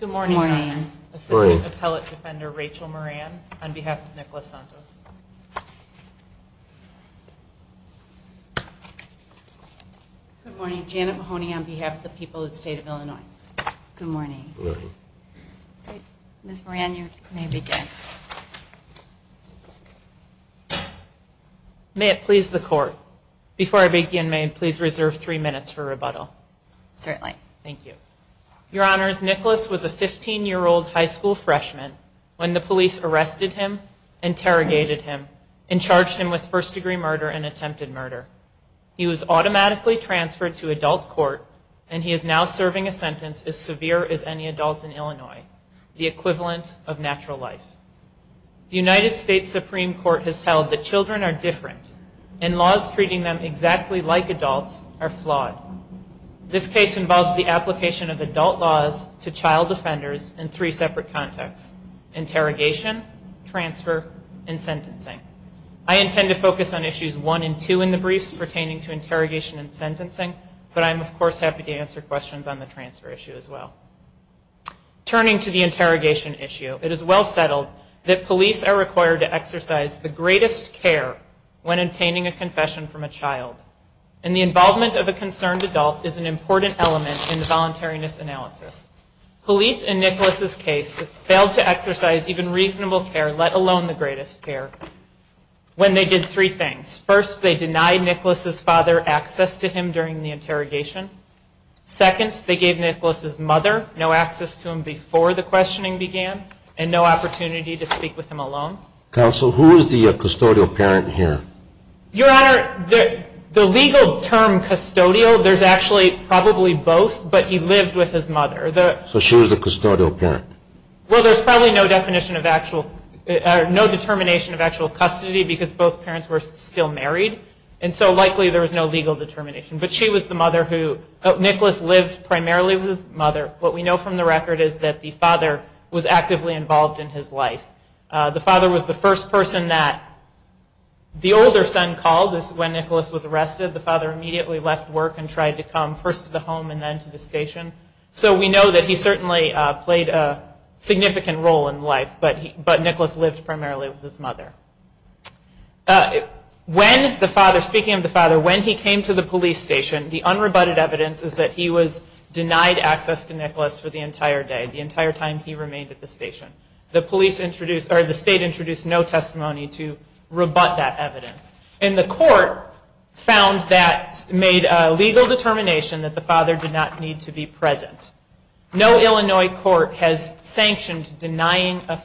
Good morning. Assistant Appellate Defender Rachel Moran on behalf of Nicholas Santos. Good morning. Janet Mahoney on behalf of the people of the state of Illinois. Good morning. Ms. Moran, you may begin. May it please the Court, before I begin, may I please reserve three minutes for rebuttal? Certainly. Thank you. Your Honors, Nicholas was a 15-year-old high school freshman when the police arrested him, interrogated him, and charged him with first-degree murder and attempted murder. He was automatically transferred to adult court, and he is now serving a sentence as severe as any adult in Illinois, the equivalent of natural life. The United States Supreme Court has held that children are different, and laws treating them exactly like adults are flawed. This case involves the application of adult laws to child offenders in three separate contexts, interrogation, transfer, and sentencing. I intend to focus on issues one and two in the briefs pertaining to interrogation and sentencing, but I am, of course, happy to answer questions on the transfer issue as well. Turning to the interrogation issue, it is well settled that police are required to exercise the greatest care when obtaining a confession from a child, and the involvement of a concerned adult is an important element in the voluntariness analysis. Police in Nicholas's case failed to exercise even reasonable care, let alone the greatest care, when they did three things. First, they denied Nicholas's father access to him during the interrogation. Second, they gave Nicholas's mother no access to him before the questioning began and no opportunity to speak with him alone. Counsel, who is the custodial parent here? Your Honor, the legal term custodial, there's actually probably both, but he lived with his mother. So she was the custodial parent? Well, there's probably no definition of actual, no determination of actual custody because both parents were still married, and so likely there was no legal determination. But she was the mother who, Nicholas lived primarily with his mother. What we know from the record is that the father was actively involved in his life. The father was the first person that the older son called when Nicholas was arrested. The father immediately left work and tried to come first to the home and then to the station. So we know that he certainly played a significant role in life, but Nicholas lived primarily with his mother. Speaking of the father, when he came to the police station, the unrebutted evidence is that he was denied access to Nicholas for the entire day, the entire time he remained at the station. The state introduced no testimony to rebut that evidence. And the court found that, made a legal determination that the father did not need to be present. No Illinois court has sanctioned denying a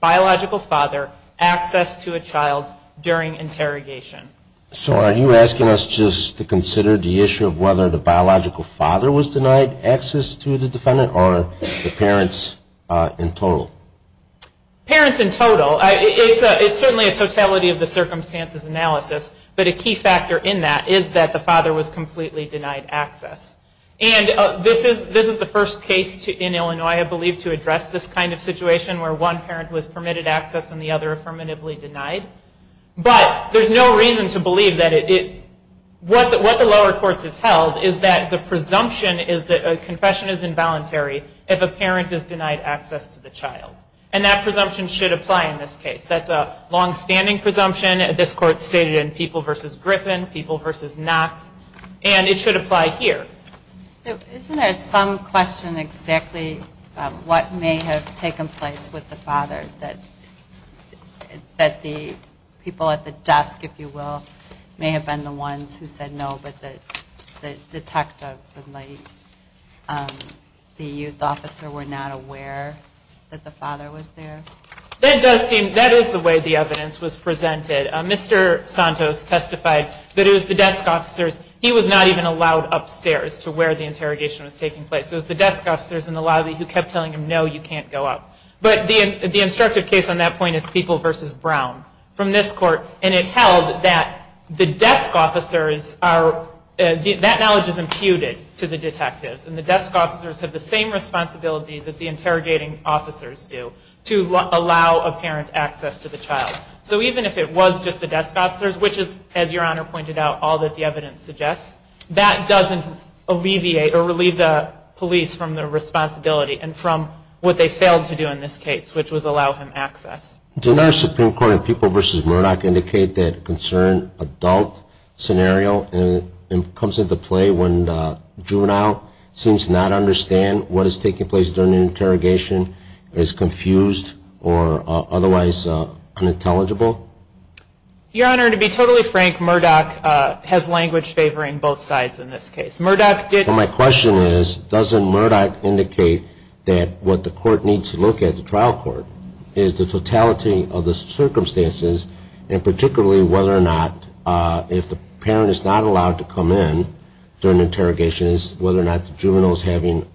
biological father access to a child during interrogation. So are you asking us just to consider the issue of whether the biological father was denied access to the defendant or the parents in total? Parents in total, it's certainly a totality of the circumstances analysis, but a key factor in that is that the father was completely denied access. And this is the first case in Illinois I believe to address this kind of situation where one parent was permitted access and the other affirmatively denied. But there's no reason to believe that it, what the lower courts have held is that the presumption is that a confession is involuntary if a parent is denied access to the child. And that presumption should apply in this case. That's a longstanding presumption. This court stated in People v. Griffin, People v. Knox, and it should apply here. Isn't there some question exactly what may have taken place with the father that the people at the desk, if you will, may have been the ones who said no, but the detectives and the youth officer were not aware that the father was there? That does seem, that is the way the evidence was presented. Mr. Santos testified that it was the desk officers, he was not even allowed upstairs to where the interrogation was taking place. It was the desk officers in the lobby who kept telling him no, you can't go up. But the instructive case on that point is People v. Brown from this court. And it held that the desk officers are, that knowledge is imputed to the detectives. And the desk officers have the same responsibility that the interrogating officers do to allow a parent access to the child. So even if it was just the desk officers, which is, as Your Honor pointed out, all that the evidence suggests, that doesn't alleviate or relieve the police from the responsibility and from what they failed to do in this case, which was allow him access. Did another Supreme Court in People v. Murdoch indicate that concern adult scenario comes into play when the juvenile seems to not understand what is taking place during the interrogation, is confused or otherwise unintelligible? Your Honor, to be totally frank, Murdoch has language favoring both sides in this case. Murdoch did... My question is, doesn't Murdoch indicate that what the court needs to look at, which is the trial court, is the totality of the circumstances, and particularly whether or not, if the parent is not allowed to come in during interrogation, is whether or not the juvenile is having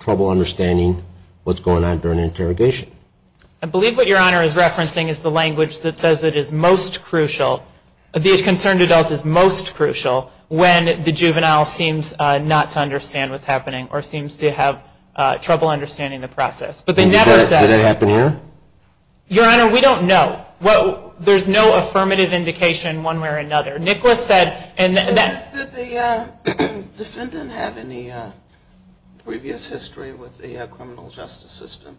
trouble understanding what's going on during interrogation. I believe what Your Honor is referencing is the language that says it is most crucial, the concerned adult is most crucial when the juvenile seems not to understand what's happening or seems to have trouble understanding the process. But they never said... Did that happen here? Your Honor, we don't know. There's no affirmative indication one way or another. Nicholas said... Did the defendant have any previous history with the criminal justice system?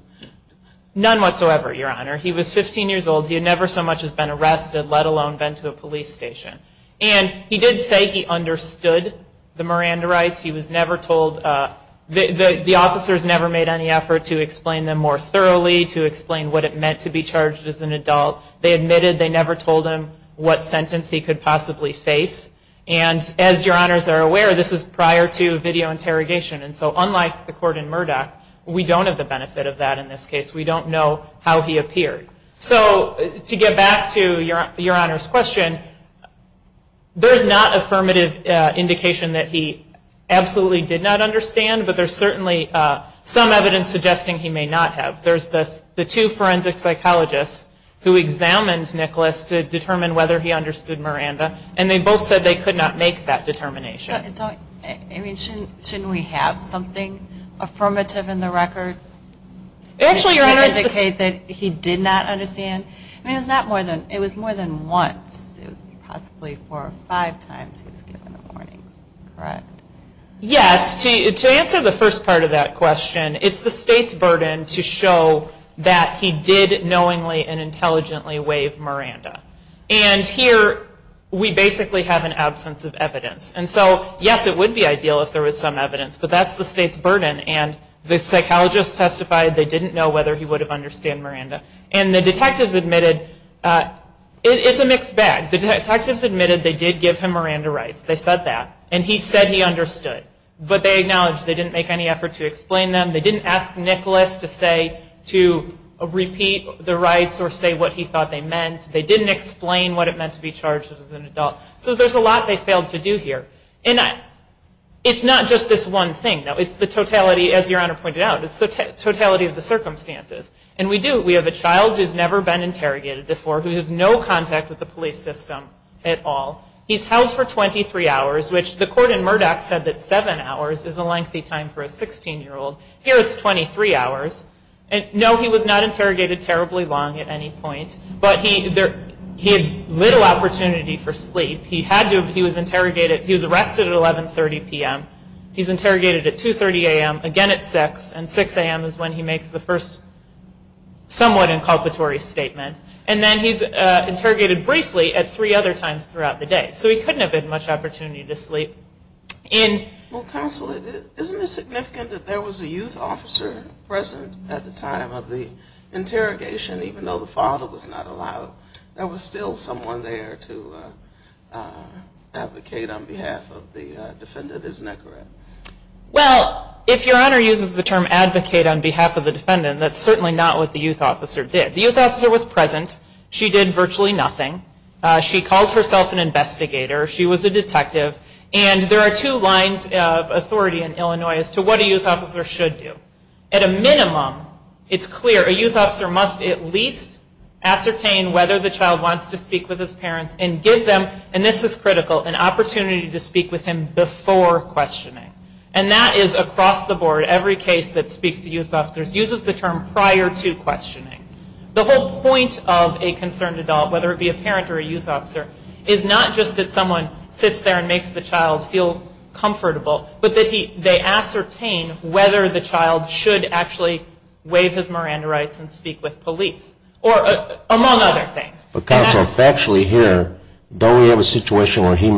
None whatsoever, Your Honor. He was 15 years old. He had never so much as been arrested, let alone been to a police station. And he did say he understood the Miranda rights. He was never told... The officers never made any effort to explain them more thoroughly, to explain what it meant to be charged as an adult. They admitted they never told him what sentence he could possibly face. And as Your Honors are aware, this is prior to video interrogation, and so unlike the court in Murdoch, we don't have the benefit of that in this case. We don't know how he appeared. So to get back to Your Honor's question, there's not affirmative indication that he absolutely did not understand, but there's certainly some evidence suggesting he may not have. There's the two forensic psychologists who examined Nicholas to determine whether he understood Miranda, and they both said they could not make that determination. Shouldn't we have something affirmative in the record to indicate that he did not understand? I mean, it was more than once. It was possibly four or five times he was given the warnings, correct? Yes. To answer the first part of that question, it's the state's burden to show that he did knowingly and intelligently waive Miranda. And here, we basically have an absence of evidence. And so, yes, it would be ideal if there was some evidence, but that's the state's burden, and the psychologists testified they didn't know whether he would have understood Miranda. And the detectives admitted, it's a mixed bag. The detectives admitted they did give him Miranda rights. They said that. And he said he understood. But they acknowledged they didn't make any effort to explain them. They didn't ask Nicholas to say, to repeat the rights or say what he thought they meant. They didn't explain what it meant to be charged as an adult. So there's a lot they failed to do here. And it's not just this one thing, though. It's the totality, as Your Honor pointed out, it's the totality of the circumstances. And we do, we have a child who's never been interrogated before, who has no contact with the police system at all. He's held for 23 hours, which the court in Murdoch said that seven hours is a lengthy time for a 16-year-old. Here, it's 23 hours. No, he was not interrogated terribly long at any point, but he had little opportunity for sleep. He was arrested at 11.30 p.m. He's interrogated at 2.30 a.m., again at 6, and 6 a.m. is when he makes the first somewhat inculpatory statement. And then he's interrogated briefly at three other times throughout the day. So he couldn't have had much opportunity to sleep. Well, Counsel, isn't it significant that there was a youth officer present at the time of the interrogation, even though the father was not allowed? There was still someone there to advocate on behalf of the defendant. Isn't that correct? Well, if Your Honor uses the term advocate on behalf of the defendant, that's certainly not what the youth officer did. The youth officer was present. She did virtually nothing. She called herself an investigator. She was a detective. And there are two lines of authority in Illinois as to what a youth officer should do. At a minimum, it's clear a youth officer must at least ascertain whether the child wants to speak with his parents and give them, and this is critical, an opportunity to speak with him before questioning. And that is across the board. Every case that speaks to youth officers uses the term prior to questioning. The whole point of a concerned adult, whether it be a parent or a youth officer, is not just that someone sits there and makes the child feel comfortable, but that they ascertain whether the child should actually waive his Miranda rights and speak with police, or among other things. Counsel, factually here, don't we have a situation where he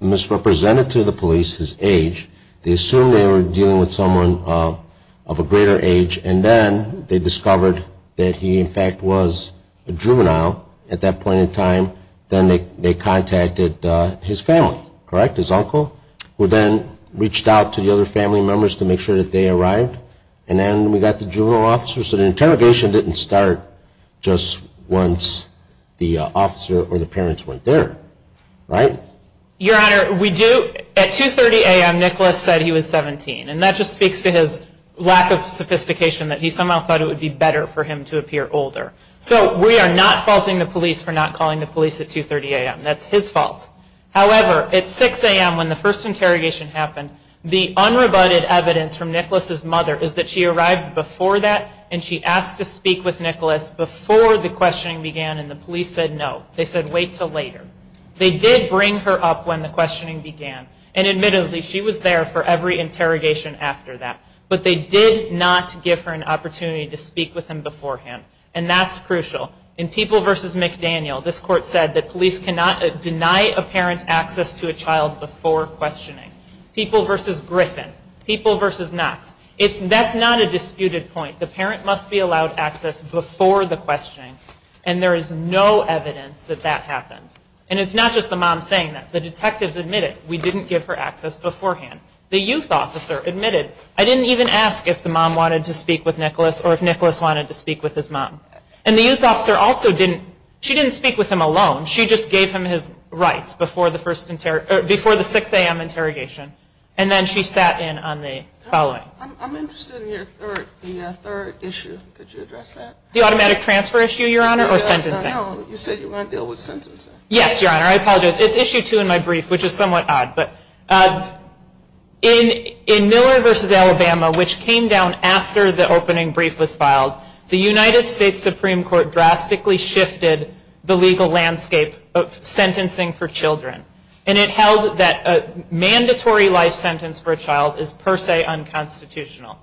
misrepresented to the police his age? They assumed they were dealing with someone of a greater age, and then they discovered that he, in fact, was a juvenile at that point in time. Then they contacted his family, correct, his uncle, who then reached out to the other family members to make sure that they arrived. And then we got the juvenile officer, so the interrogation didn't start just once the officer or the parents weren't there, right? Your Honor, we do. At 2.30 a.m. Nicholas said he was 17, and that just speaks to his lack of sophistication that he somehow thought it would be better for him to appear older. So we are not faulting the police for not calling the police at 2.30 a.m. That's his fault. However, at 6 a.m. when the first interrogation happened, the unrebutted evidence from Nicholas's mother is that she arrived before that, and she asked to speak with Nicholas before the questioning began, and the police said no. They said wait until later. They did bring her up when the questioning began, and admittedly, she was there for every interrogation after that. But they did not give her an opportunity to speak with him beforehand, and that's crucial. In People v. McDaniel, this Court said that police cannot deny a parent access to a child before questioning. People v. Griffin, People v. Knox, that's not a disputed point. The parent must be allowed access before the questioning, and there is no evidence that that happened. And it's not just the mom saying that. The detectives admitted we didn't give her access beforehand. The youth officer admitted, I didn't even ask if the mom wanted to speak with Nicholas or if Nicholas wanted to speak with his mom. And the youth officer also didn't. She didn't speak with him alone. She just gave him his rights before the 6 a.m. interrogation, and then she sat in on the following. I'm interested in your third issue. Could you address that? The automatic transfer issue, Your Honor, or sentencing? No, you said you want to deal with sentencing. Yes, Your Honor. I apologize. It's issue two in my brief, which is somewhat odd. In Miller v. Alabama, which came down after the opening brief was filed, the United States Supreme Court drastically shifted the legal landscape of sentencing for children, and it held that a mandatory life sentence for a child was unconstitutional.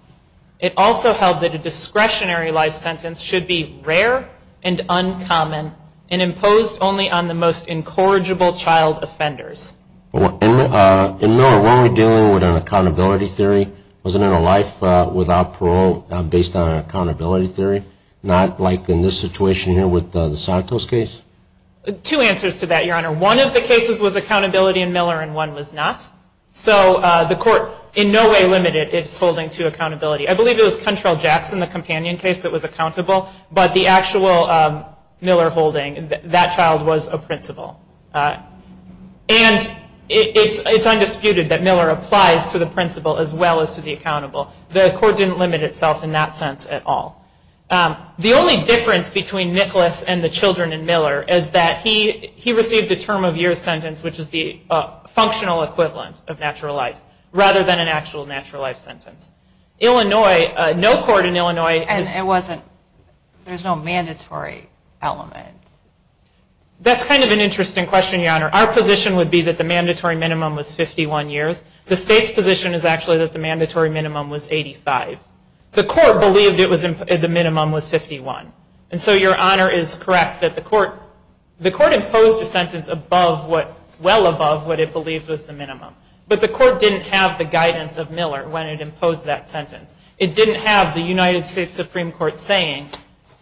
It also held that a discretionary life sentence should be rare and uncommon and imposed only on the most incorrigible child offenders. In Miller, were we dealing with an accountability theory? Was there a life without parole based on an accountability theory, not like in this situation here with the Santos case? Two answers to that, Your Honor. One of the cases was accountability in Miller, and one was not. So the court in no way limited its holding to accountability. I believe it was Cuntrell-Jackson, the companion case, that was accountable, but the actual Miller holding, that child was a principal. And it's undisputed that Miller applies to the principal as well as to the accountable. The court didn't limit itself in that sense at all. The only difference between Nicholas and the children in Miller is that he received a term of years sentence, which is the functional equivalent of natural life, rather than an actual natural life sentence. Illinois, no court in Illinois. And it wasn't, there's no mandatory element. That's kind of an interesting question, Your Honor. Our position would be that the mandatory minimum was 51 years. The state's position is actually that the mandatory minimum was 85. The court believed the minimum was 51. And so Your Honor is correct that the court, the court imposed a sentence above what, well above what it believed was the minimum. But the court didn't have the guidance of Miller when it imposed that sentence. It didn't have the United States Supreme Court saying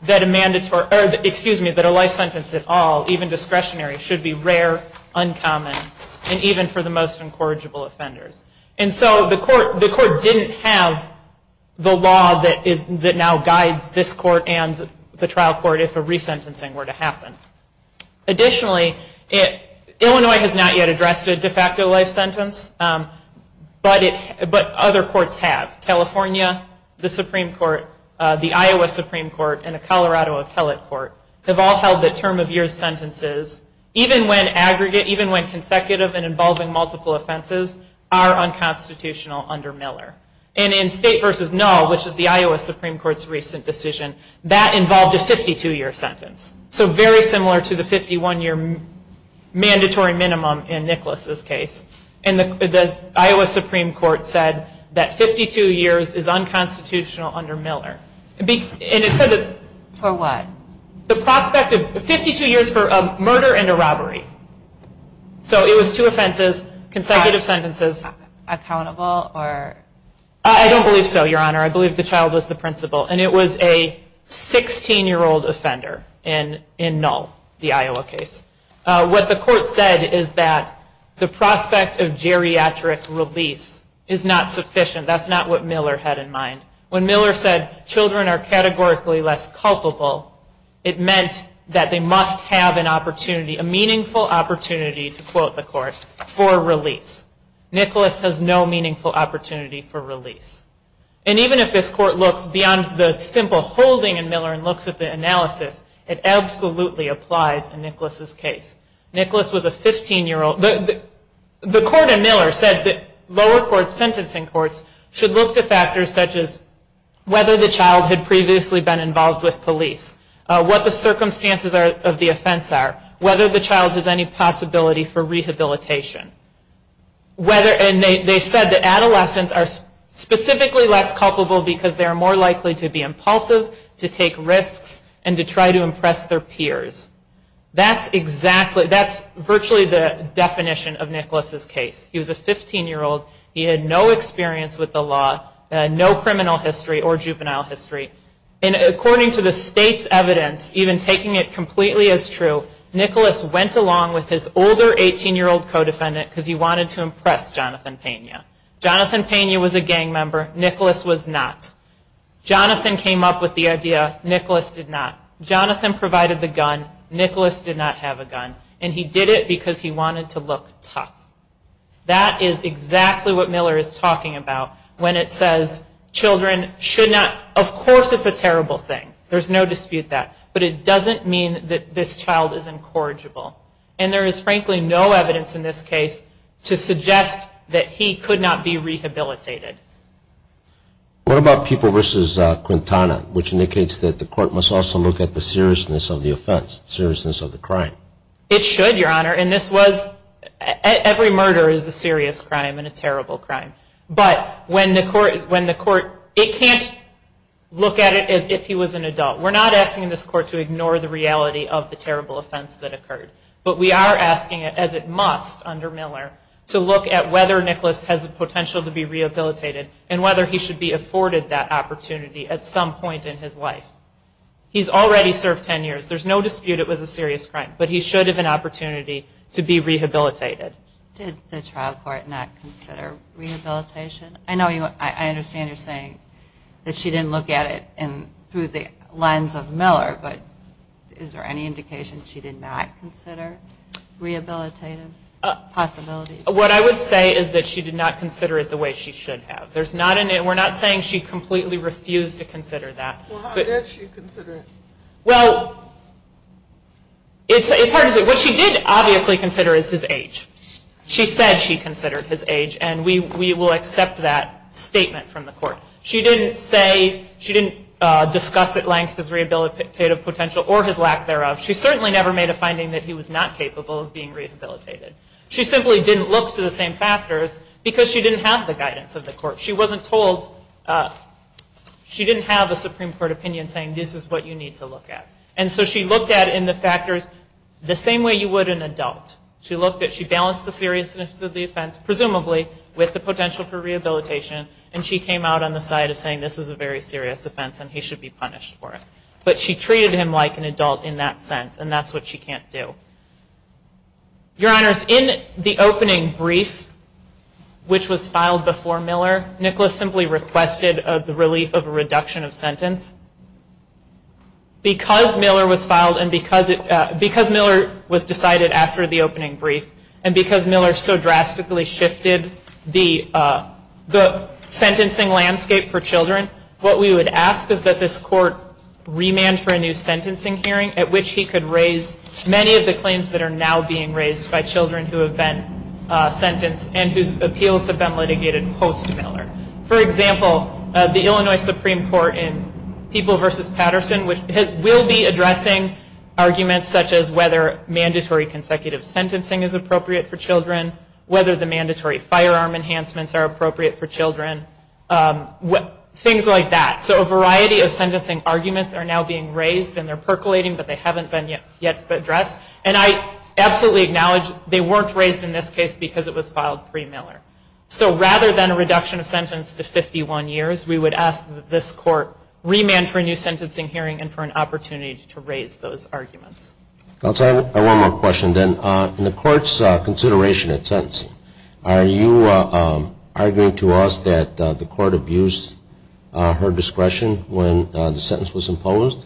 that a life sentence at all, even discretionary, should be rare, uncommon, and even for the most incorrigible offenders. And so the court didn't have the law that now guides this court and the trial court if a resentencing were to happen. Additionally, Illinois has not yet addressed a de facto life sentence, but other courts have. California, the Supreme Court, the Iowa Supreme Court, and the Colorado Appellate Court have all held that term of years sentences, even when aggregate, even when consecutive and involving multiple offenses, are unconstitutional under Miller. And in state versus null, which is the Iowa Supreme Court's recent decision, that involved a 52-year sentence. So very similar to the 51-year mandatory minimum in Nicholas's case. And the Iowa Supreme Court said that 52 years is unconstitutional under Miller. And it said that... For what? The prospect of 52 years for a murder and a robbery. So it was two offenses, consecutive sentences. Accountable or... I don't believe so, Your Honor. I believe the child was the principal. And it was a 16-year-old offender in null, the Iowa case. What the court said is that the prospect of geriatric release is not sufficient. That's not what Miller had in mind. When Miller said children are categorically less culpable, it meant that they must have an opportunity, a meaningful opportunity, to quote the court, for release. Nicholas has no meaningful opportunity for release. And even if this court looks beyond the simple holding in Miller and looks at the analysis, it absolutely applies in Nicholas's case. Nicholas was a 15-year-old... The court in Miller said that lower court sentencing courts should look to factors such as whether the child had previously been involved with police, what the circumstances of the offense are, whether the child has any possibility for rehabilitation. Whether... And they said that adolescents are specifically less culpable because they are more likely to be impulsive, to take risks, and to try to impress their peers. That's exactly... That's virtually the definition of Nicholas's case. He was a 15-year-old. He had no experience with the law, no criminal history or juvenile history. And according to the state's evidence, even taking it completely as true, Nicholas went along with his older 18-year-old co-defendant because he wanted to impress Jonathan Pena. Jonathan Pena was a gang member. Nicholas was not. Jonathan came up with the idea. Nicholas did not. Jonathan provided the gun. Nicholas did not have a gun. And he did it because he wanted to look tough. That is exactly what Miller is talking about when it says children should not... Of course it's a terrible thing. There's no dispute that. But it doesn't mean that this child is incorrigible. And there is frankly no evidence in this case to suggest that he could not be rehabilitated. What about people versus Quintana, which indicates that the court must also look at the seriousness of the offense, seriousness of the crime? It should, Your Honor. And this was... Every murder is a serious crime and a terrible crime. But when the court... It can't look at it as if he was an adult. We're not asking this court to ignore the reality of the terrible offense that occurred. But we are asking it, as it must under Miller, to look at whether Nicholas has the potential to be rehabilitated and whether he should be afforded that opportunity at some point in his life. He's already served 10 years. There's no dispute it was a serious crime. But he should have an opportunity to be rehabilitated. Did the trial court not consider rehabilitation? I know you... That she didn't look at it through the lens of Miller. But is there any indication she did not consider rehabilitative possibilities? What I would say is that she did not consider it the way she should have. We're not saying she completely refused to consider that. Well, how did she consider it? Well, it's hard to say. What she did obviously consider is his age. She said she considered his age. And we will accept that statement from the court. She didn't say, she didn't discuss at length his rehabilitative potential or his lack thereof. She certainly never made a finding that he was not capable of being rehabilitated. She simply didn't look to the same factors because she didn't have the guidance of the court. She wasn't told, she didn't have a Supreme Court opinion saying this is what you need to look at. And so she looked at it in the factors the same way you would an adult. She balanced the seriousness of the offense, presumably, with the potential for rehabilitation. And she came out on the side of saying this is a very serious offense and he should be punished for it. But she treated him like an adult in that sense. And that's what she can't do. Your Honors, in the opening brief, which was filed before Miller, Nicholas simply requested the relief of a reduction of sentence. Because Miller was filed and because Miller was decided after the opening brief and because Miller so drastically shifted the sentencing landscape for children, what we would ask is that this court remand for a new sentencing hearing at which he could raise many of the claims that are now being raised by children who have been sentenced and whose appeals have been litigated post-Miller. For example, the Illinois Supreme Court in People v. Patterson, which will be addressing arguments such as whether mandatory consecutive sentencing is appropriate for children, whether the mandatory firearm enhancements are appropriate for children, things like that. So a variety of sentencing arguments are now being raised and they're percolating but they haven't been yet addressed. And I absolutely acknowledge they weren't raised in this case because it was filed pre-Miller. So rather than a reduction of sentence to 51 years, we would ask that this court remand for a new sentencing hearing and for an opportunity to raise those arguments. I have one more question then. In the court's consideration of sentencing, are you arguing to us that the court abused her discretion when the sentence was imposed?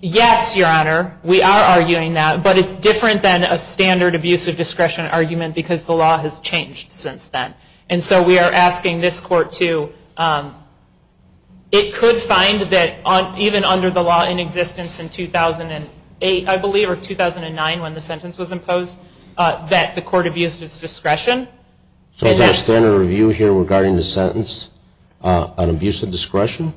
Yes, Your Honor. We are arguing that. But it's different than a standard abuse of discretion argument because the law has changed since then. And so we are asking this court to. It could find that even under the law in existence in 2008, I believe, or 2009 when the sentence was imposed, that the court abused its discretion. So is our standard review here regarding the sentence an abuse of discretion?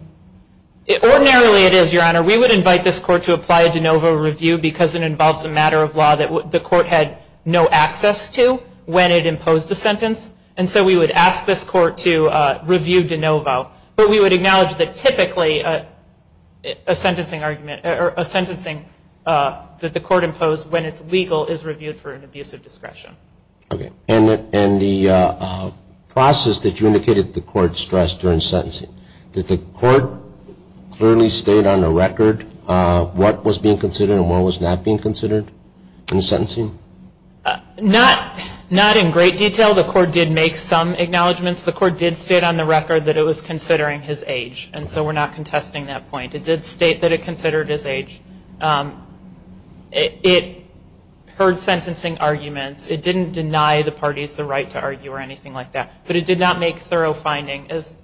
Ordinarily it is, Your Honor. We would invite this court to apply a de novo review because it involves a matter of law that the court had no access to when it imposed the sentence. And so we would ask this court to review de novo. But we would acknowledge that typically a sentencing argument or a sentencing that the court imposed when it's legal is reviewed for an abuse of discretion. Okay. And the process that you indicated the court stressed during sentencing, did the court clearly state on the record what was being considered and what was not being considered in sentencing? Not in great detail. The court did make some acknowledgments. The court did state on the record that it was considering his age. And so we're not contesting that point. It did state that it considered his age. It heard sentencing arguments. It didn't deny the parties the right to argue or anything like that. But it did not make thorough finding as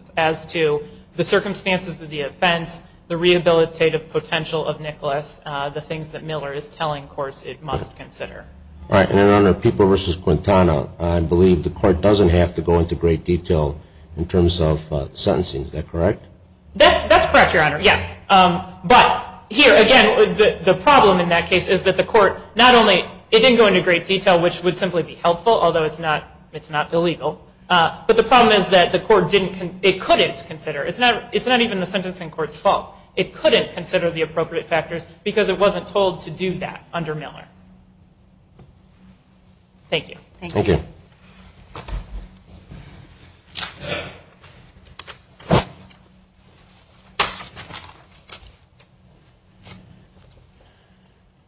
to the circumstances of the offense, the rehabilitative potential of Nicholas, the things that Miller is telling courts it must consider. All right. And, Your Honor, People v. Quintana, I believe the court doesn't have to go into great detail in terms of sentencing. Is that correct? That's correct, Your Honor, yes. But here, again, the problem in that case is that the court not only, it didn't go into great detail, which would simply be helpful, although it's not illegal. But the problem is that the court didn't, it couldn't consider, it's not even the sentencing court's fault. It couldn't consider the appropriate factors because it wasn't told to do that under Miller. Thank you. Thank you.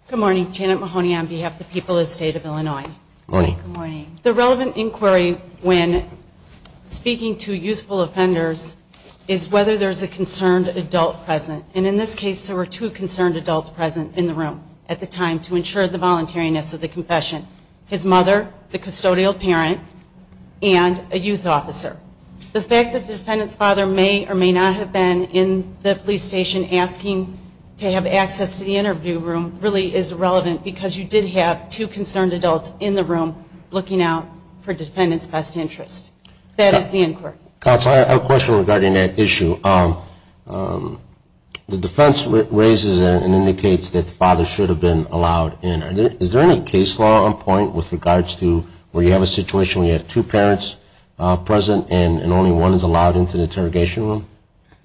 Good morning. Janet Mahoney on behalf of the people of the State of Illinois. Good morning. The relevant inquiry when speaking to youthful offenders is whether there's a concerned adult present. And in this case, there were two concerned adults present in the room at the time to ensure the voluntariness of the confession. His mother, the custodial parent, and a youth officer. The fact that the defendant's father may or may not have been in the police station asking to have access to the interview room really is relevant because you did have two concerned adults in the room looking out for defendant's best interest. That is the inquiry. Counsel, I have a question regarding that issue. The defense raises it and indicates that the father should have been allowed in. Is there any case law on point with regards to where you have a situation where you have two parents present and only one is allowed into the interrogation room?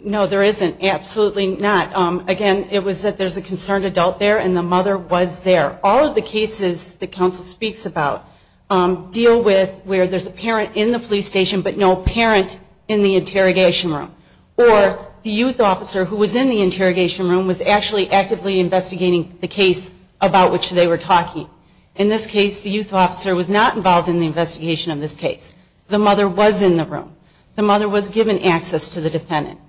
No, there isn't. Absolutely not. Again, it was that there's a concerned adult there and the mother was there. All of the cases that counsel speaks about deal with where there's a parent in the police station but no parent in the interrogation room. Or the youth officer who was in the interrogation room was actually actively investigating the case about which they were talking. In this case, the youth officer was not involved in the investigation of this case. The mother was in the room. The mother was given access to the defendant.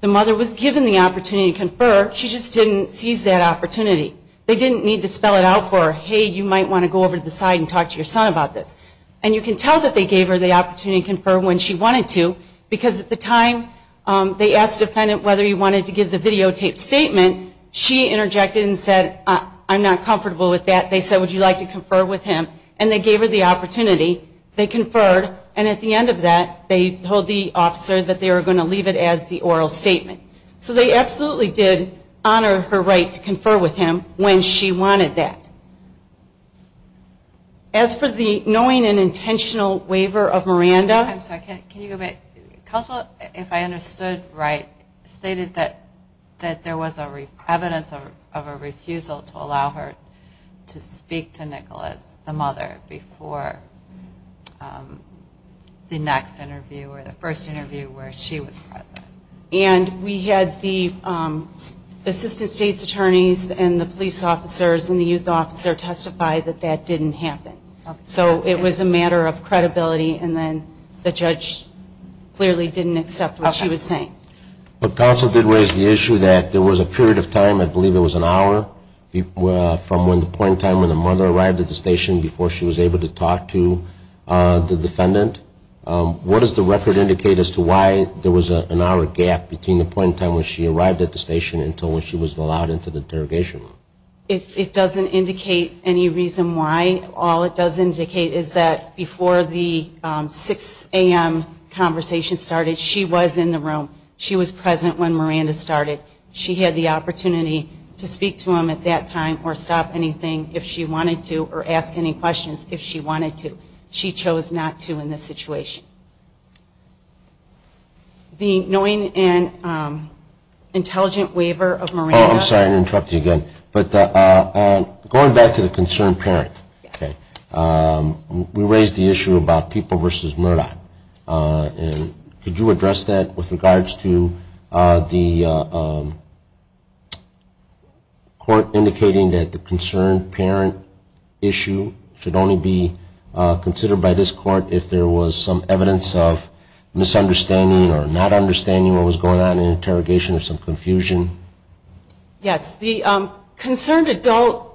The mother was given the opportunity to confer. She just didn't seize that opportunity. They didn't need to spell it out for her. Hey, you might want to go over to the side and talk to your son about this. And you can tell that they gave her the opportunity to confer when she wanted to because at the time they asked the defendant whether he wanted to give the videotaped statement. She interjected and said, I'm not comfortable with that. They said, would you like to confer with him? And they gave her the opportunity. They conferred. And at the end of that, they told the officer that they were going to leave it as the oral statement. So they absolutely did honor her right to confer with him when she wanted that. As for the knowing and intentional waiver of Miranda. Counsel, if I understood right, stated that there was evidence of a refusal to allow her to speak to Nicholas, the mother, before the next interview or the first interview where she was present. And we had the assistant state's attorneys and the police officers and the chief officer testify that that didn't happen. So it was a matter of credibility and then the judge clearly didn't accept what she was saying. But counsel did raise the issue that there was a period of time, I believe it was an hour, from the point in time when the mother arrived at the station before she was able to talk to the defendant. What does the record indicate as to why there was an hour gap between the point in time when she arrived at the station until when she was allowed into the interrogation room? It doesn't indicate any reason why. All it does indicate is that before the 6 a.m. conversation started, she was in the room. She was present when Miranda started. She had the opportunity to speak to him at that time or stop anything if she wanted to or ask any questions if she wanted to. She chose not to in this situation. The knowing and intelligent waiver of Miranda. I'm sorry to interrupt you again. But going back to the concerned parent, we raised the issue about people versus Murdoch. Could you address that with regards to the court indicating that the concerned parent issue should only be considered by this court if there was some evidence of misunderstanding or not understanding what was going on in interrogation or some confusion? Yes. The concerned adult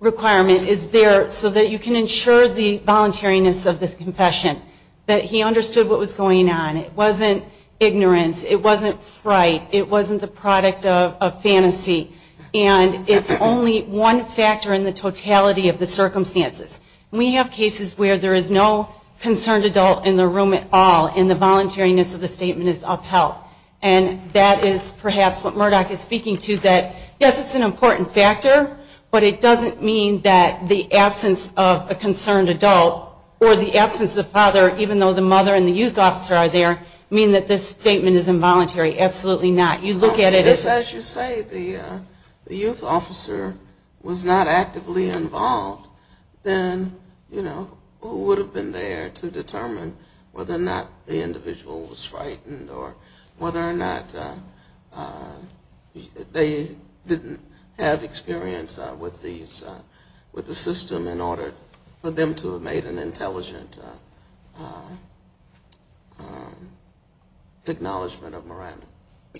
requirement is there so that you can ensure the voluntariness of this confession, that he understood what was going on. It wasn't ignorance. It wasn't fright. It wasn't the product of fantasy. And it's only one factor in the totality of the circumstances. We have cases where there is no concerned adult in the room at all and the voluntariness of the statement is upheld. And that is perhaps what Murdoch is speaking to, that, yes, it's an important factor, but it doesn't mean that the absence of a concerned adult or the absence of the father, even though the mother and the youth officer are there, mean that this statement is involuntary. Absolutely not. You look at it as you say the youth officer was not actively involved, then who would have been there to determine whether or not the individual was frightened or whether or not they didn't have experience with the system in order for them to have made an intelligent acknowledgment of morality?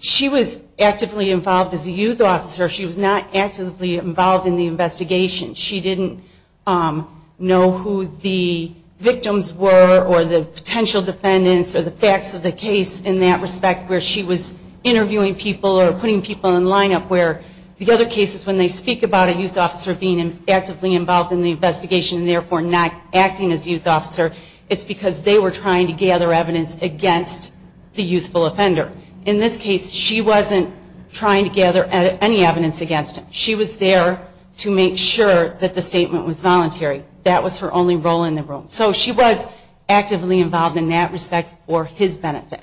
She was actively involved as a youth officer. She was not actively involved in the investigation. She didn't know who the victims were or the potential defendants or the facts of the case in that respect where she was interviewing people or putting people in lineup where the other cases when they speak about a youth officer being actively involved in the investigation and therefore not acting as youth officer, it's because they were trying to gather evidence against the youthful offender. In this case, she wasn't trying to gather any evidence against him. She was there to make sure that the statement was voluntary. That was her only role in the room. So she was actively involved in that respect for his benefit.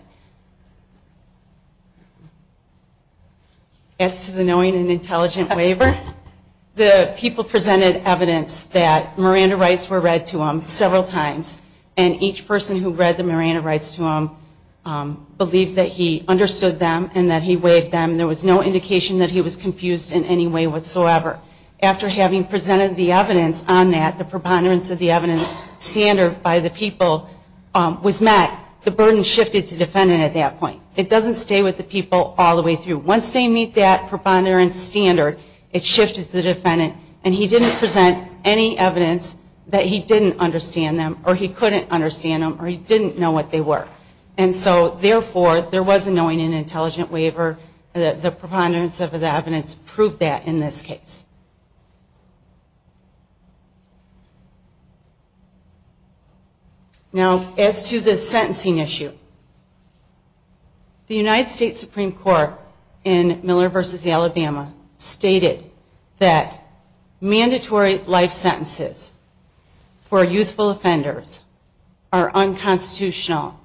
As to the knowing and intelligent waiver, the people presented evidence that Miranda rights were read to them several times and each person who read the Miranda rights to them believed that he understood them and that he wasn't confused in any way whatsoever. After having presented the evidence on that, the preponderance of the evidence standard by the people was met, the burden shifted to the defendant at that point. It doesn't stay with the people all the way through. Once they meet that preponderance standard, it shifted to the defendant and he didn't present any evidence that he didn't understand them or he couldn't understand them or he didn't know what they were. And so therefore, there was a knowing and intelligent waiver, the people presented evidence to prove that in this case. Now, as to the sentencing issue, the United States Supreme Court in Miller v. Alabama stated that mandatory life sentences for youthful offenders are unconstitutional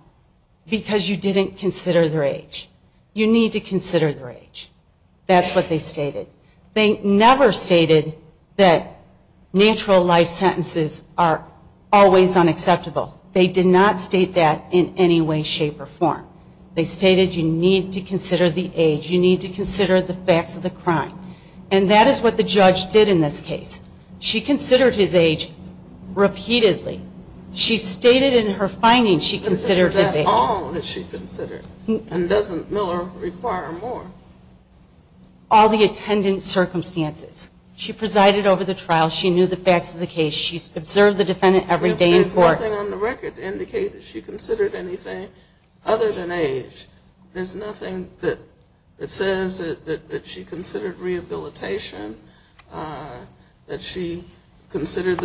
because you didn't consider their age. You need to consider their age. That's what they stated. They never stated that natural life sentences are always unacceptable. They did not state that in any way, shape or form. They stated you need to consider the age. You need to consider the facts of the crime. And that is what the judge did in this case. She considered his age repeatedly. She stated in her findings she considered his age. That's all that she considered. And doesn't Miller require more? All the attendant circumstances. She presided over the trial. She knew the facts of the case. She observed the defendant every day in court. There's nothing on the record to indicate that she considered anything other than age. There's nothing that says that she considered rehabilitation, that she considered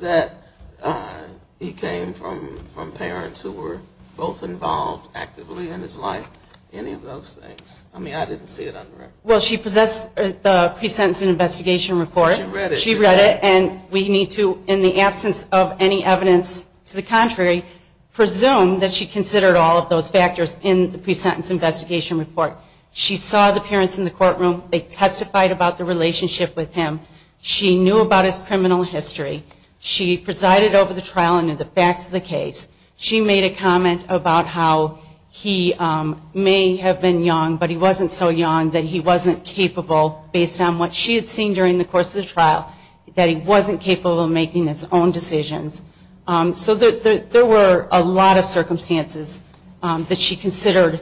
that he came from parents who were both involved actively in his life. Any of those things. I mean, I didn't see it on the record. Well, she possessed the pre-sentence investigation report. She read it. And we need to, in the absence of any evidence to the contrary, presume that she considered all of those factors in the pre-sentence investigation report. She saw the parents in the courtroom. They testified about the relationship with him. She knew about his criminal history. She presided over the trial and the facts of the case. She made a comment about how he may have been young, but he wasn't so young that he wasn't capable, based on what she had seen during the course of the trial, that he wasn't capable of making his own decisions. So there were a lot of circumstances that she considered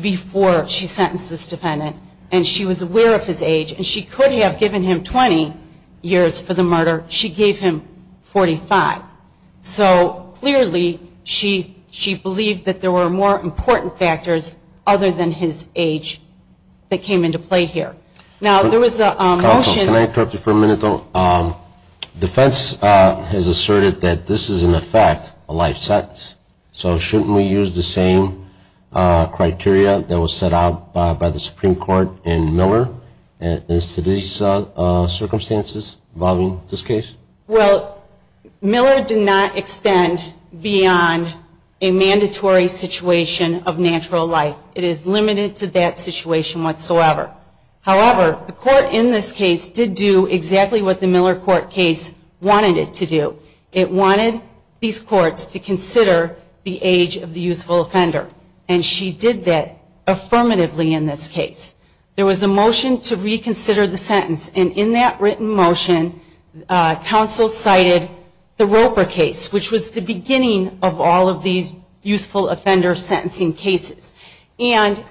before she sentenced this defendant. And she was aware of his age. And she could have given him 20 years for the murder. She gave him 45. So, clearly, she believed that there were more important factors other than his age that came into play here. Now, there was a motion. Counsel, can I interrupt you for a minute, though? Defense has asserted that this is, in effect, a life sentence. So shouldn't we use the same criteria that was set out by the Supreme Court in Miller as to these circumstances involving this case? Well, Miller did not extend beyond a mandatory situation of natural life. It is limited to that situation whatsoever. However, the court in this case did do exactly what the Miller court case wanted it to do. It wanted these courts to consider the age of the youthful offender. And she did that affirmatively in this case. There was a motion to reconsider the sentence. And in that written motion, counsel cited the Roper case, which was the beginning of all of these youthful offender sentencing cases. And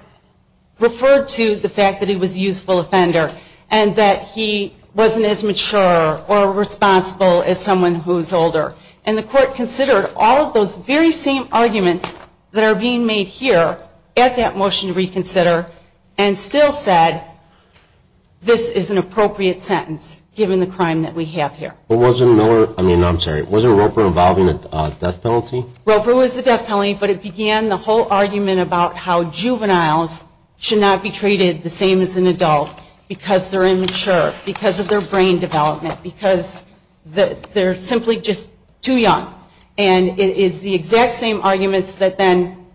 referred to the fact that he was a youthful offender and that he wasn't as mature or responsible as someone who is older. And the court considered all of those very same arguments that are being made here at that motion to reconsider and still said, this is an appropriate sentence given the crime that we have here. But wasn't Miller, I mean, I'm sorry, wasn't Roper involving a death penalty? Roper was the death penalty, but it began the whole argument about how juveniles should not be treated the same as an adult because they're immature, because of their brain development, because they're simply just too young. And it is the exact same arguments that then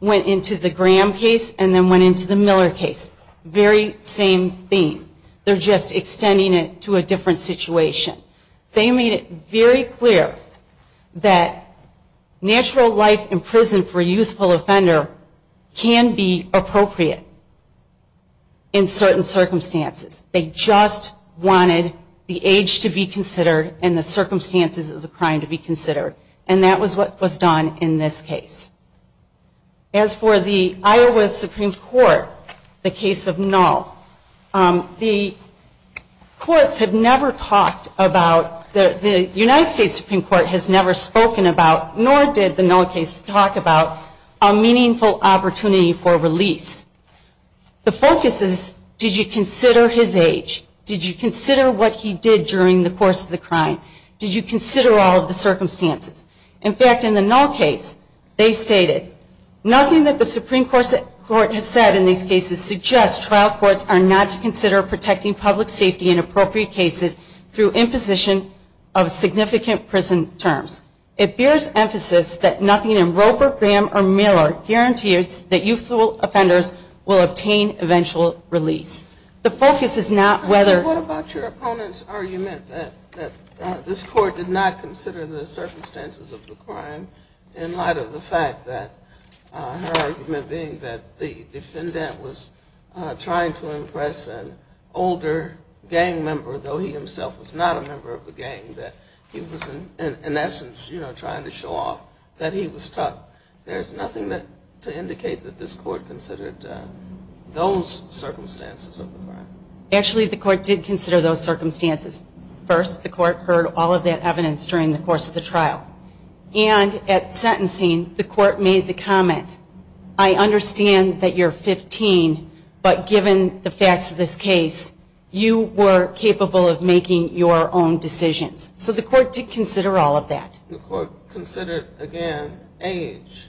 went into the Graham case and then went into the Miller case. Very same theme. They're just extending it to a different situation. They made it very clear that natural life in prison for a youthful offender can be appropriate in certain circumstances. They just wanted the age to be considered and the circumstances of the crime to be considered. And that was what was done in this case. As for the Iowa Supreme Court, the case of Null, the courts have never talked about, the United States Supreme Court has never spoken about nor did the Null case talk about a meaningful opportunity for release. The focus is, did you consider his age? Did you consider what he did during the course of the crime? Did you consider all of the circumstances? In fact, in the Null case, they stated, nothing that the Supreme Court has said in these cases suggests trial courts are not to consider protecting public safety in appropriate cases through imposition of significant prison terms. It bears emphasis that nothing in Roper, Graham, or Miller guarantees that youthful offenders will obtain eventual release. The focus is not whether... What about your opponent's argument that this court did not consider the circumstances of the crime in light of the fact that her argument being that the defendant was trying to impress an older gang member, though he himself was not a member of the gang, that he was in essence, you know, trying to show off that he was tough. There's nothing to indicate that this court considered those circumstances of the crime. Actually, the court did consider those circumstances. First, the court heard all of that evidence during the course of the trial. And at sentencing, the court made the comment, I understand that you're 15, but given the facts of this case, you were capable of making your own decisions. So the court did consider all of that. The court considered, again, age.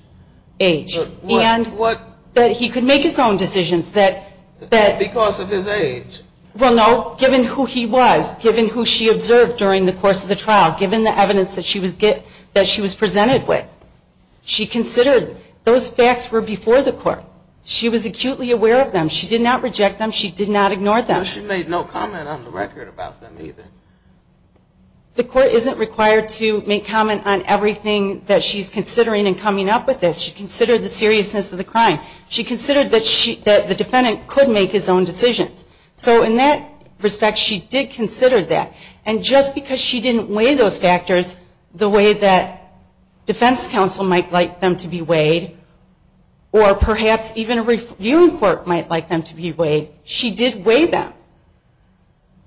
Age. And that he could make his own decisions. Because of his age. Well, no, given who he was, given who she observed during the course of the trial, given the evidence that she was presented with. She considered those facts were before the court. She was acutely aware of them. She did not reject them. She did not ignore them. She made no comment on the record about them either. The court isn't required to make comment on everything that she's considering in coming up with this. She considered the seriousness of the crime. She considered that the defendant could make his own decisions. So in that respect, she did consider that. And just because she didn't weigh those factors the way that defense counsel might like them to be weighed, or perhaps even a viewing court might like them to be weighed, she did weigh them.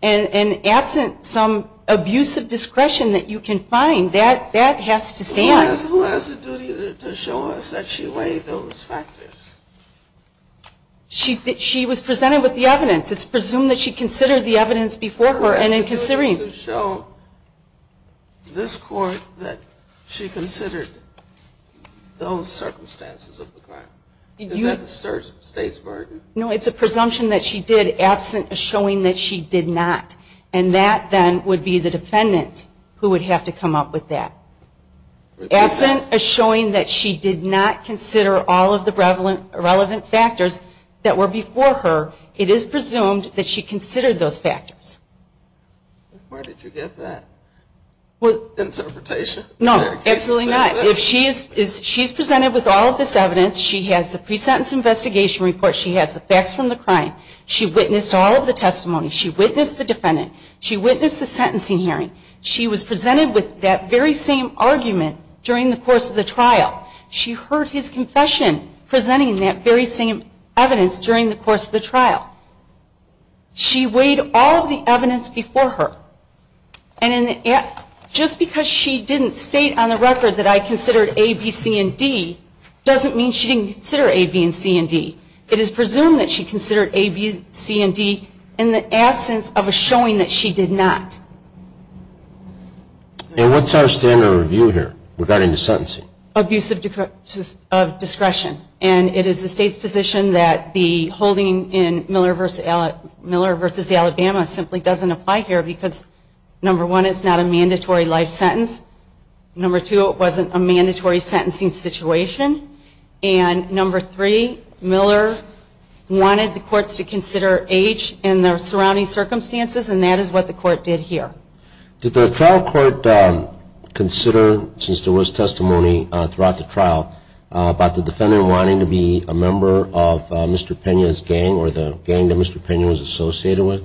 And absent some abusive discretion that you can find, that has to stand. Who has the duty to show us that she weighed those factors? She was presented with the evidence. It's presumed that she considered the evidence before her and in considering. Who has the duty to show this court that she considered those circumstances of the crime? Is that the state's burden? No, it's a presumption that she did absent a showing that she did not. And that then would be the defendant who would have to come up with that. Absent a showing that she did not consider all of the relevant factors that were before her, it is presumed that she considered those factors. Where did you get that? Interpretation? No, absolutely not. She's presented with all of this evidence. She has the pre-sentence investigation report. She has the facts from the crime. She witnessed all of the testimony. She witnessed the defendant. She witnessed the sentencing hearing. She was presented with that very same argument during the course of the trial. She heard his confession presenting that very same evidence during the course of the trial. She weighed all of the evidence before her. And just because she didn't state on the record that I considered A, B, C, and D, doesn't mean she didn't consider A, B, and C, and D. It is presumed that she considered A, B, C, and D in the absence of a showing that she did not. And what's our standard of review here regarding the sentencing? Abuse of discretion. And it is the State's position that the holding in Miller v. Alabama simply doesn't apply here because, number one, it's not a mandatory life sentence. Number two, it wasn't a mandatory sentencing situation. And number three, Miller wanted the courts to consider H in the surrounding circumstances, and that is what the court did here. Did the trial court consider, since there was testimony throughout the trial, about the defendant wanting to be a member of Mr. Pena's gang or the gang that Mr. Pena was associated with?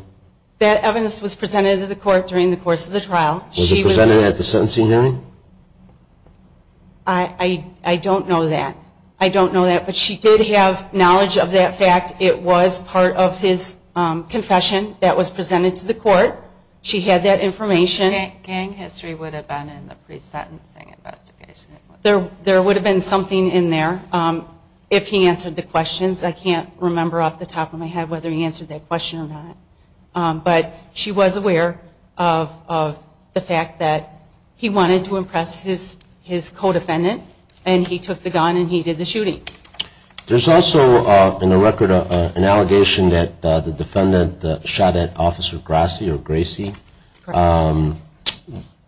That evidence was presented to the court during the course of the trial. Was it presented at the sentencing hearing? I don't know that. I don't know that, but she did have knowledge of that fact. It was part of his confession that was presented to the court. She had that information. Gang history would have been in the pre-sentencing investigation. There would have been something in there if he answered the questions. I can't remember off the top of my head whether he answered that question or not. But she was aware of the fact that he wanted to impress his co-defendant, and he took the gun and he did the shooting. There's also in the record an allegation that the defendant shot at Officer Grassy or Gracie.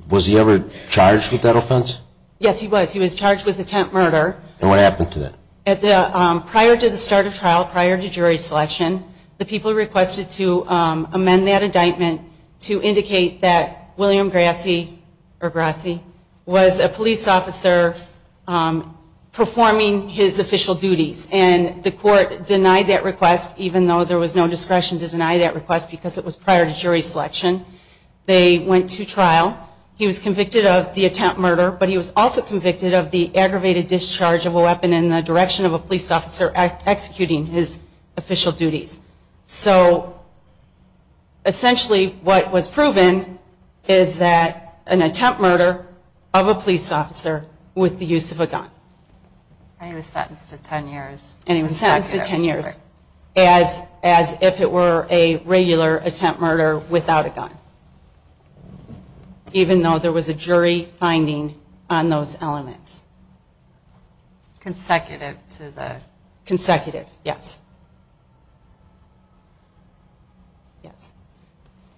Was he ever charged with that offense? Yes, he was. He was charged with attempt murder. And what happened to that? Prior to the start of trial, prior to jury selection, the people requested to amend that indictment to indicate that William Grassy or Gracie was a police officer performing his official duties. And the court denied that request, even though there was no discretion to deny that request because it was prior to jury selection. They went to trial. He was convicted of the attempt murder, but he was also convicted of the aggravated discharge of a weapon in the direction of a police officer executing his official duties. So essentially what was proven is that an attempt murder of a police officer with the use of a gun. And he was sentenced to 10 years. And he was sentenced to 10 years as if it were a regular attempt murder without a gun, even though there was a jury finding on those elements. Consecutive to the... Yes.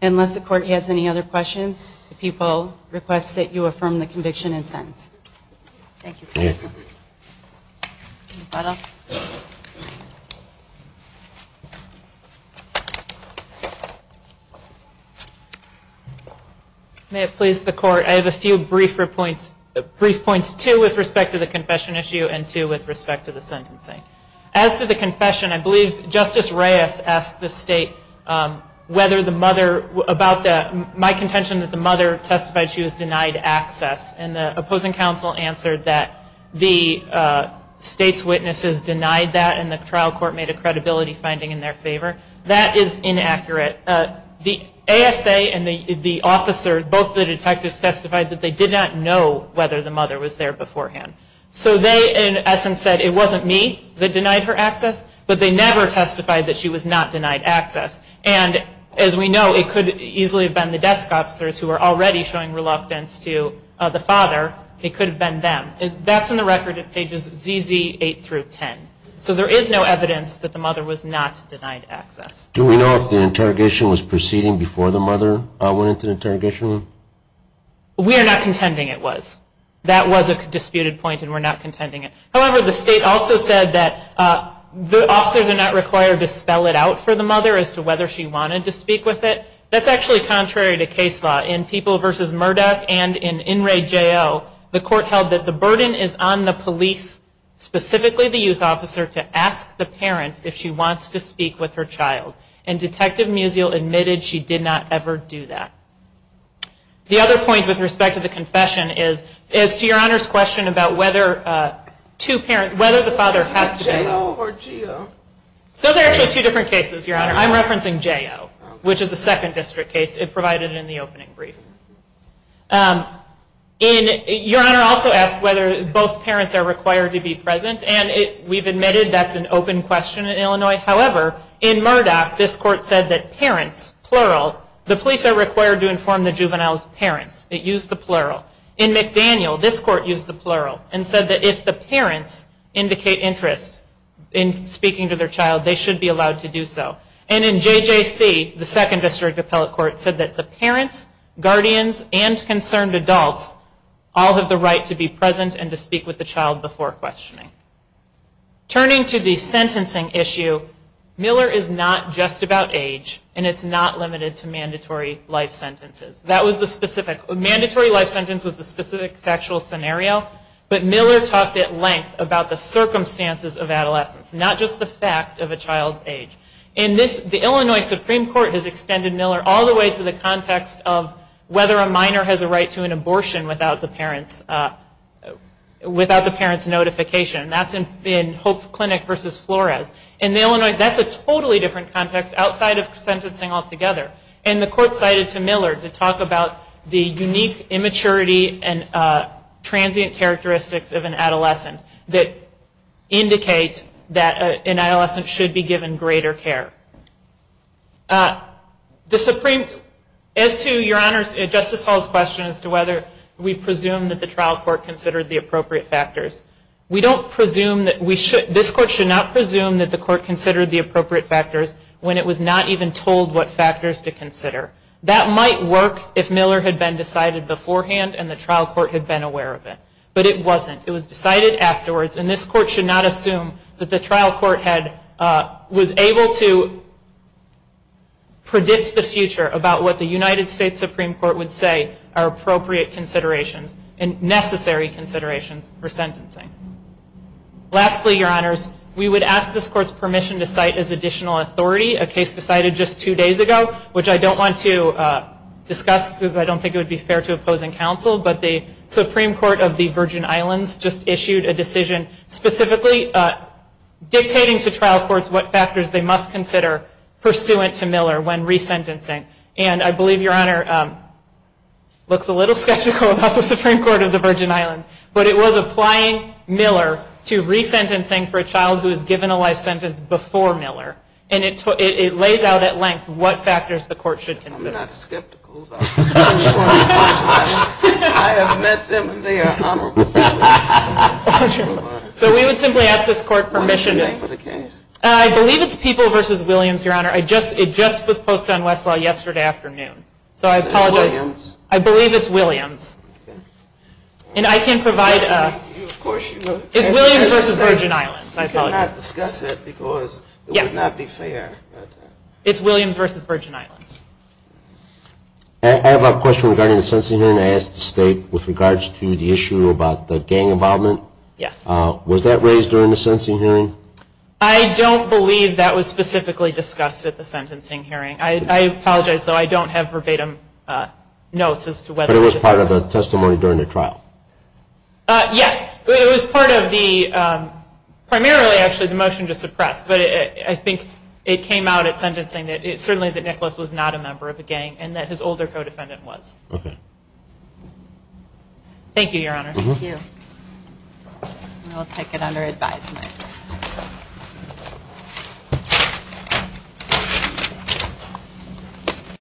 Unless the court has any other questions, the people request that you affirm the conviction and sentence. Thank you. Thank you. Thank you. May it please the court. I have a few brief points, two with respect to the confession issue and two with respect to the sentencing. As to the confession, I believe Justice Reyes asked the state whether the mother, about my contention that the mother testified she was denied access. And the opposing counsel answered that the state's witnesses denied that and the trial court made a credibility finding in their favor. That is inaccurate. The ASA and the officer, both the detectives testified that they did not know whether the mother was there beforehand. So they, in essence, said it wasn't me that denied her access, but they never testified that she was not denied access. And as we know, it could easily have been the desk officers who were already showing reluctance to the father. It could have been them. That's in the record at pages ZZ8 through 10. So there is no evidence that the mother was not denied access. Do we know if the interrogation was proceeding before the mother went into the interrogation room? We are not contending it was. That was a disputed point and we're not contending it. However, the state also said that the officers are not required to spell it out for the mother as to whether she wanted to speak with it. That's actually contrary to case law. In People v. Murdoch and in In Re J.O., the court held that the burden is on the police, specifically the youth officer, to ask the parent if she wants to speak with her child. And Detective Musial admitted she did not ever do that. The other point with respect to the confession is to Your Honor's question about whether the father has to be present. Was it J.O. or G.O.? Those are actually two different cases, Your Honor. I'm referencing J.O., which is the second district case provided in the opening brief. Your Honor also asked whether both parents are required to be present, and we've admitted that's an open question in Illinois. However, in Murdoch, this court said that parents, plural, the police are required to inform the juvenile's parents. It used the plural. In McDaniel, this court used the plural and said that if the parents indicate interest in speaking to their child, they should be allowed to do so. And in J.J.C., the second district appellate court said that the parents, guardians, and concerned adults all have the right to be present and to speak with the child before questioning. Turning to the sentencing issue, Miller is not just about age, and it's not limited to mandatory life sentences. Mandatory life sentence was the specific factual scenario, but Miller talked at length about the circumstances of adolescence, not just the fact of a child's age. The Illinois Supreme Court has extended Miller all the way to the context of whether a minor has a right to an abortion without the parent's notification. That's in Hope Clinic v. Flores. In the Illinois, that's a totally different context outside of sentencing altogether. And the court cited to Miller to talk about the unique immaturity and transient characteristics of an adolescent that indicates that an adolescent should be given greater care. As to Your Honors, Justice Hall's question as to whether we presume that the trial court considered the appropriate factors, we don't presume that we should, this court should not presume that the court considered the appropriate factors when it was not even told what factors to consider. That might work if Miller had been decided beforehand and the trial court had been aware of it. But it wasn't. It was decided afterwards, and this court should not assume that the trial court was able to predict the future about what the United States Supreme Court would say are appropriate considerations and necessary considerations for sentencing. Lastly, Your Honors, we would ask this court's permission to cite as additional authority a case decided just two days ago, which I don't want to discuss because I don't think it would be fair to opposing counsel. But the Supreme Court of the Virgin Islands just issued a decision specifically dictating to trial courts what factors they must consider pursuant to Miller when resentencing. And I believe Your Honor looks a little skeptical about the Supreme Court of the Virgin Islands, but it was applying Miller to resentencing for a child who was given a life sentence before Miller. And it lays out at length what factors the court should consider. I'm not skeptical about the Supreme Court of the Virgin Islands. I have met them. They are honorable. So we would simply ask this court permission. What is the name of the case? I believe it's People v. Williams, Your Honor. It just was posted on Westlaw yesterday afternoon. So I apologize. Williams? I believe it's Williams. And I can provide a question. It's Williams v. Virgin Islands. I apologize. You cannot discuss it because it would not be fair. It's Williams v. Virgin Islands. I have a question regarding the sentencing hearing. I asked the State with regards to the issue about the gang involvement. Yes. Was that raised during the sentencing hearing? I don't believe that was specifically discussed at the sentencing hearing. I apologize, though. I don't have verbatim notes as to whether it was. But it was part of the testimony during the trial? Yes. It was part of the – primarily, actually, the motion to suppress. But I think it came out at sentencing that certainly that Nicholas was not a member of the gang and that his older co-defendant was. Okay. Thank you, Your Honor. Thank you. And I'll take it under advisement.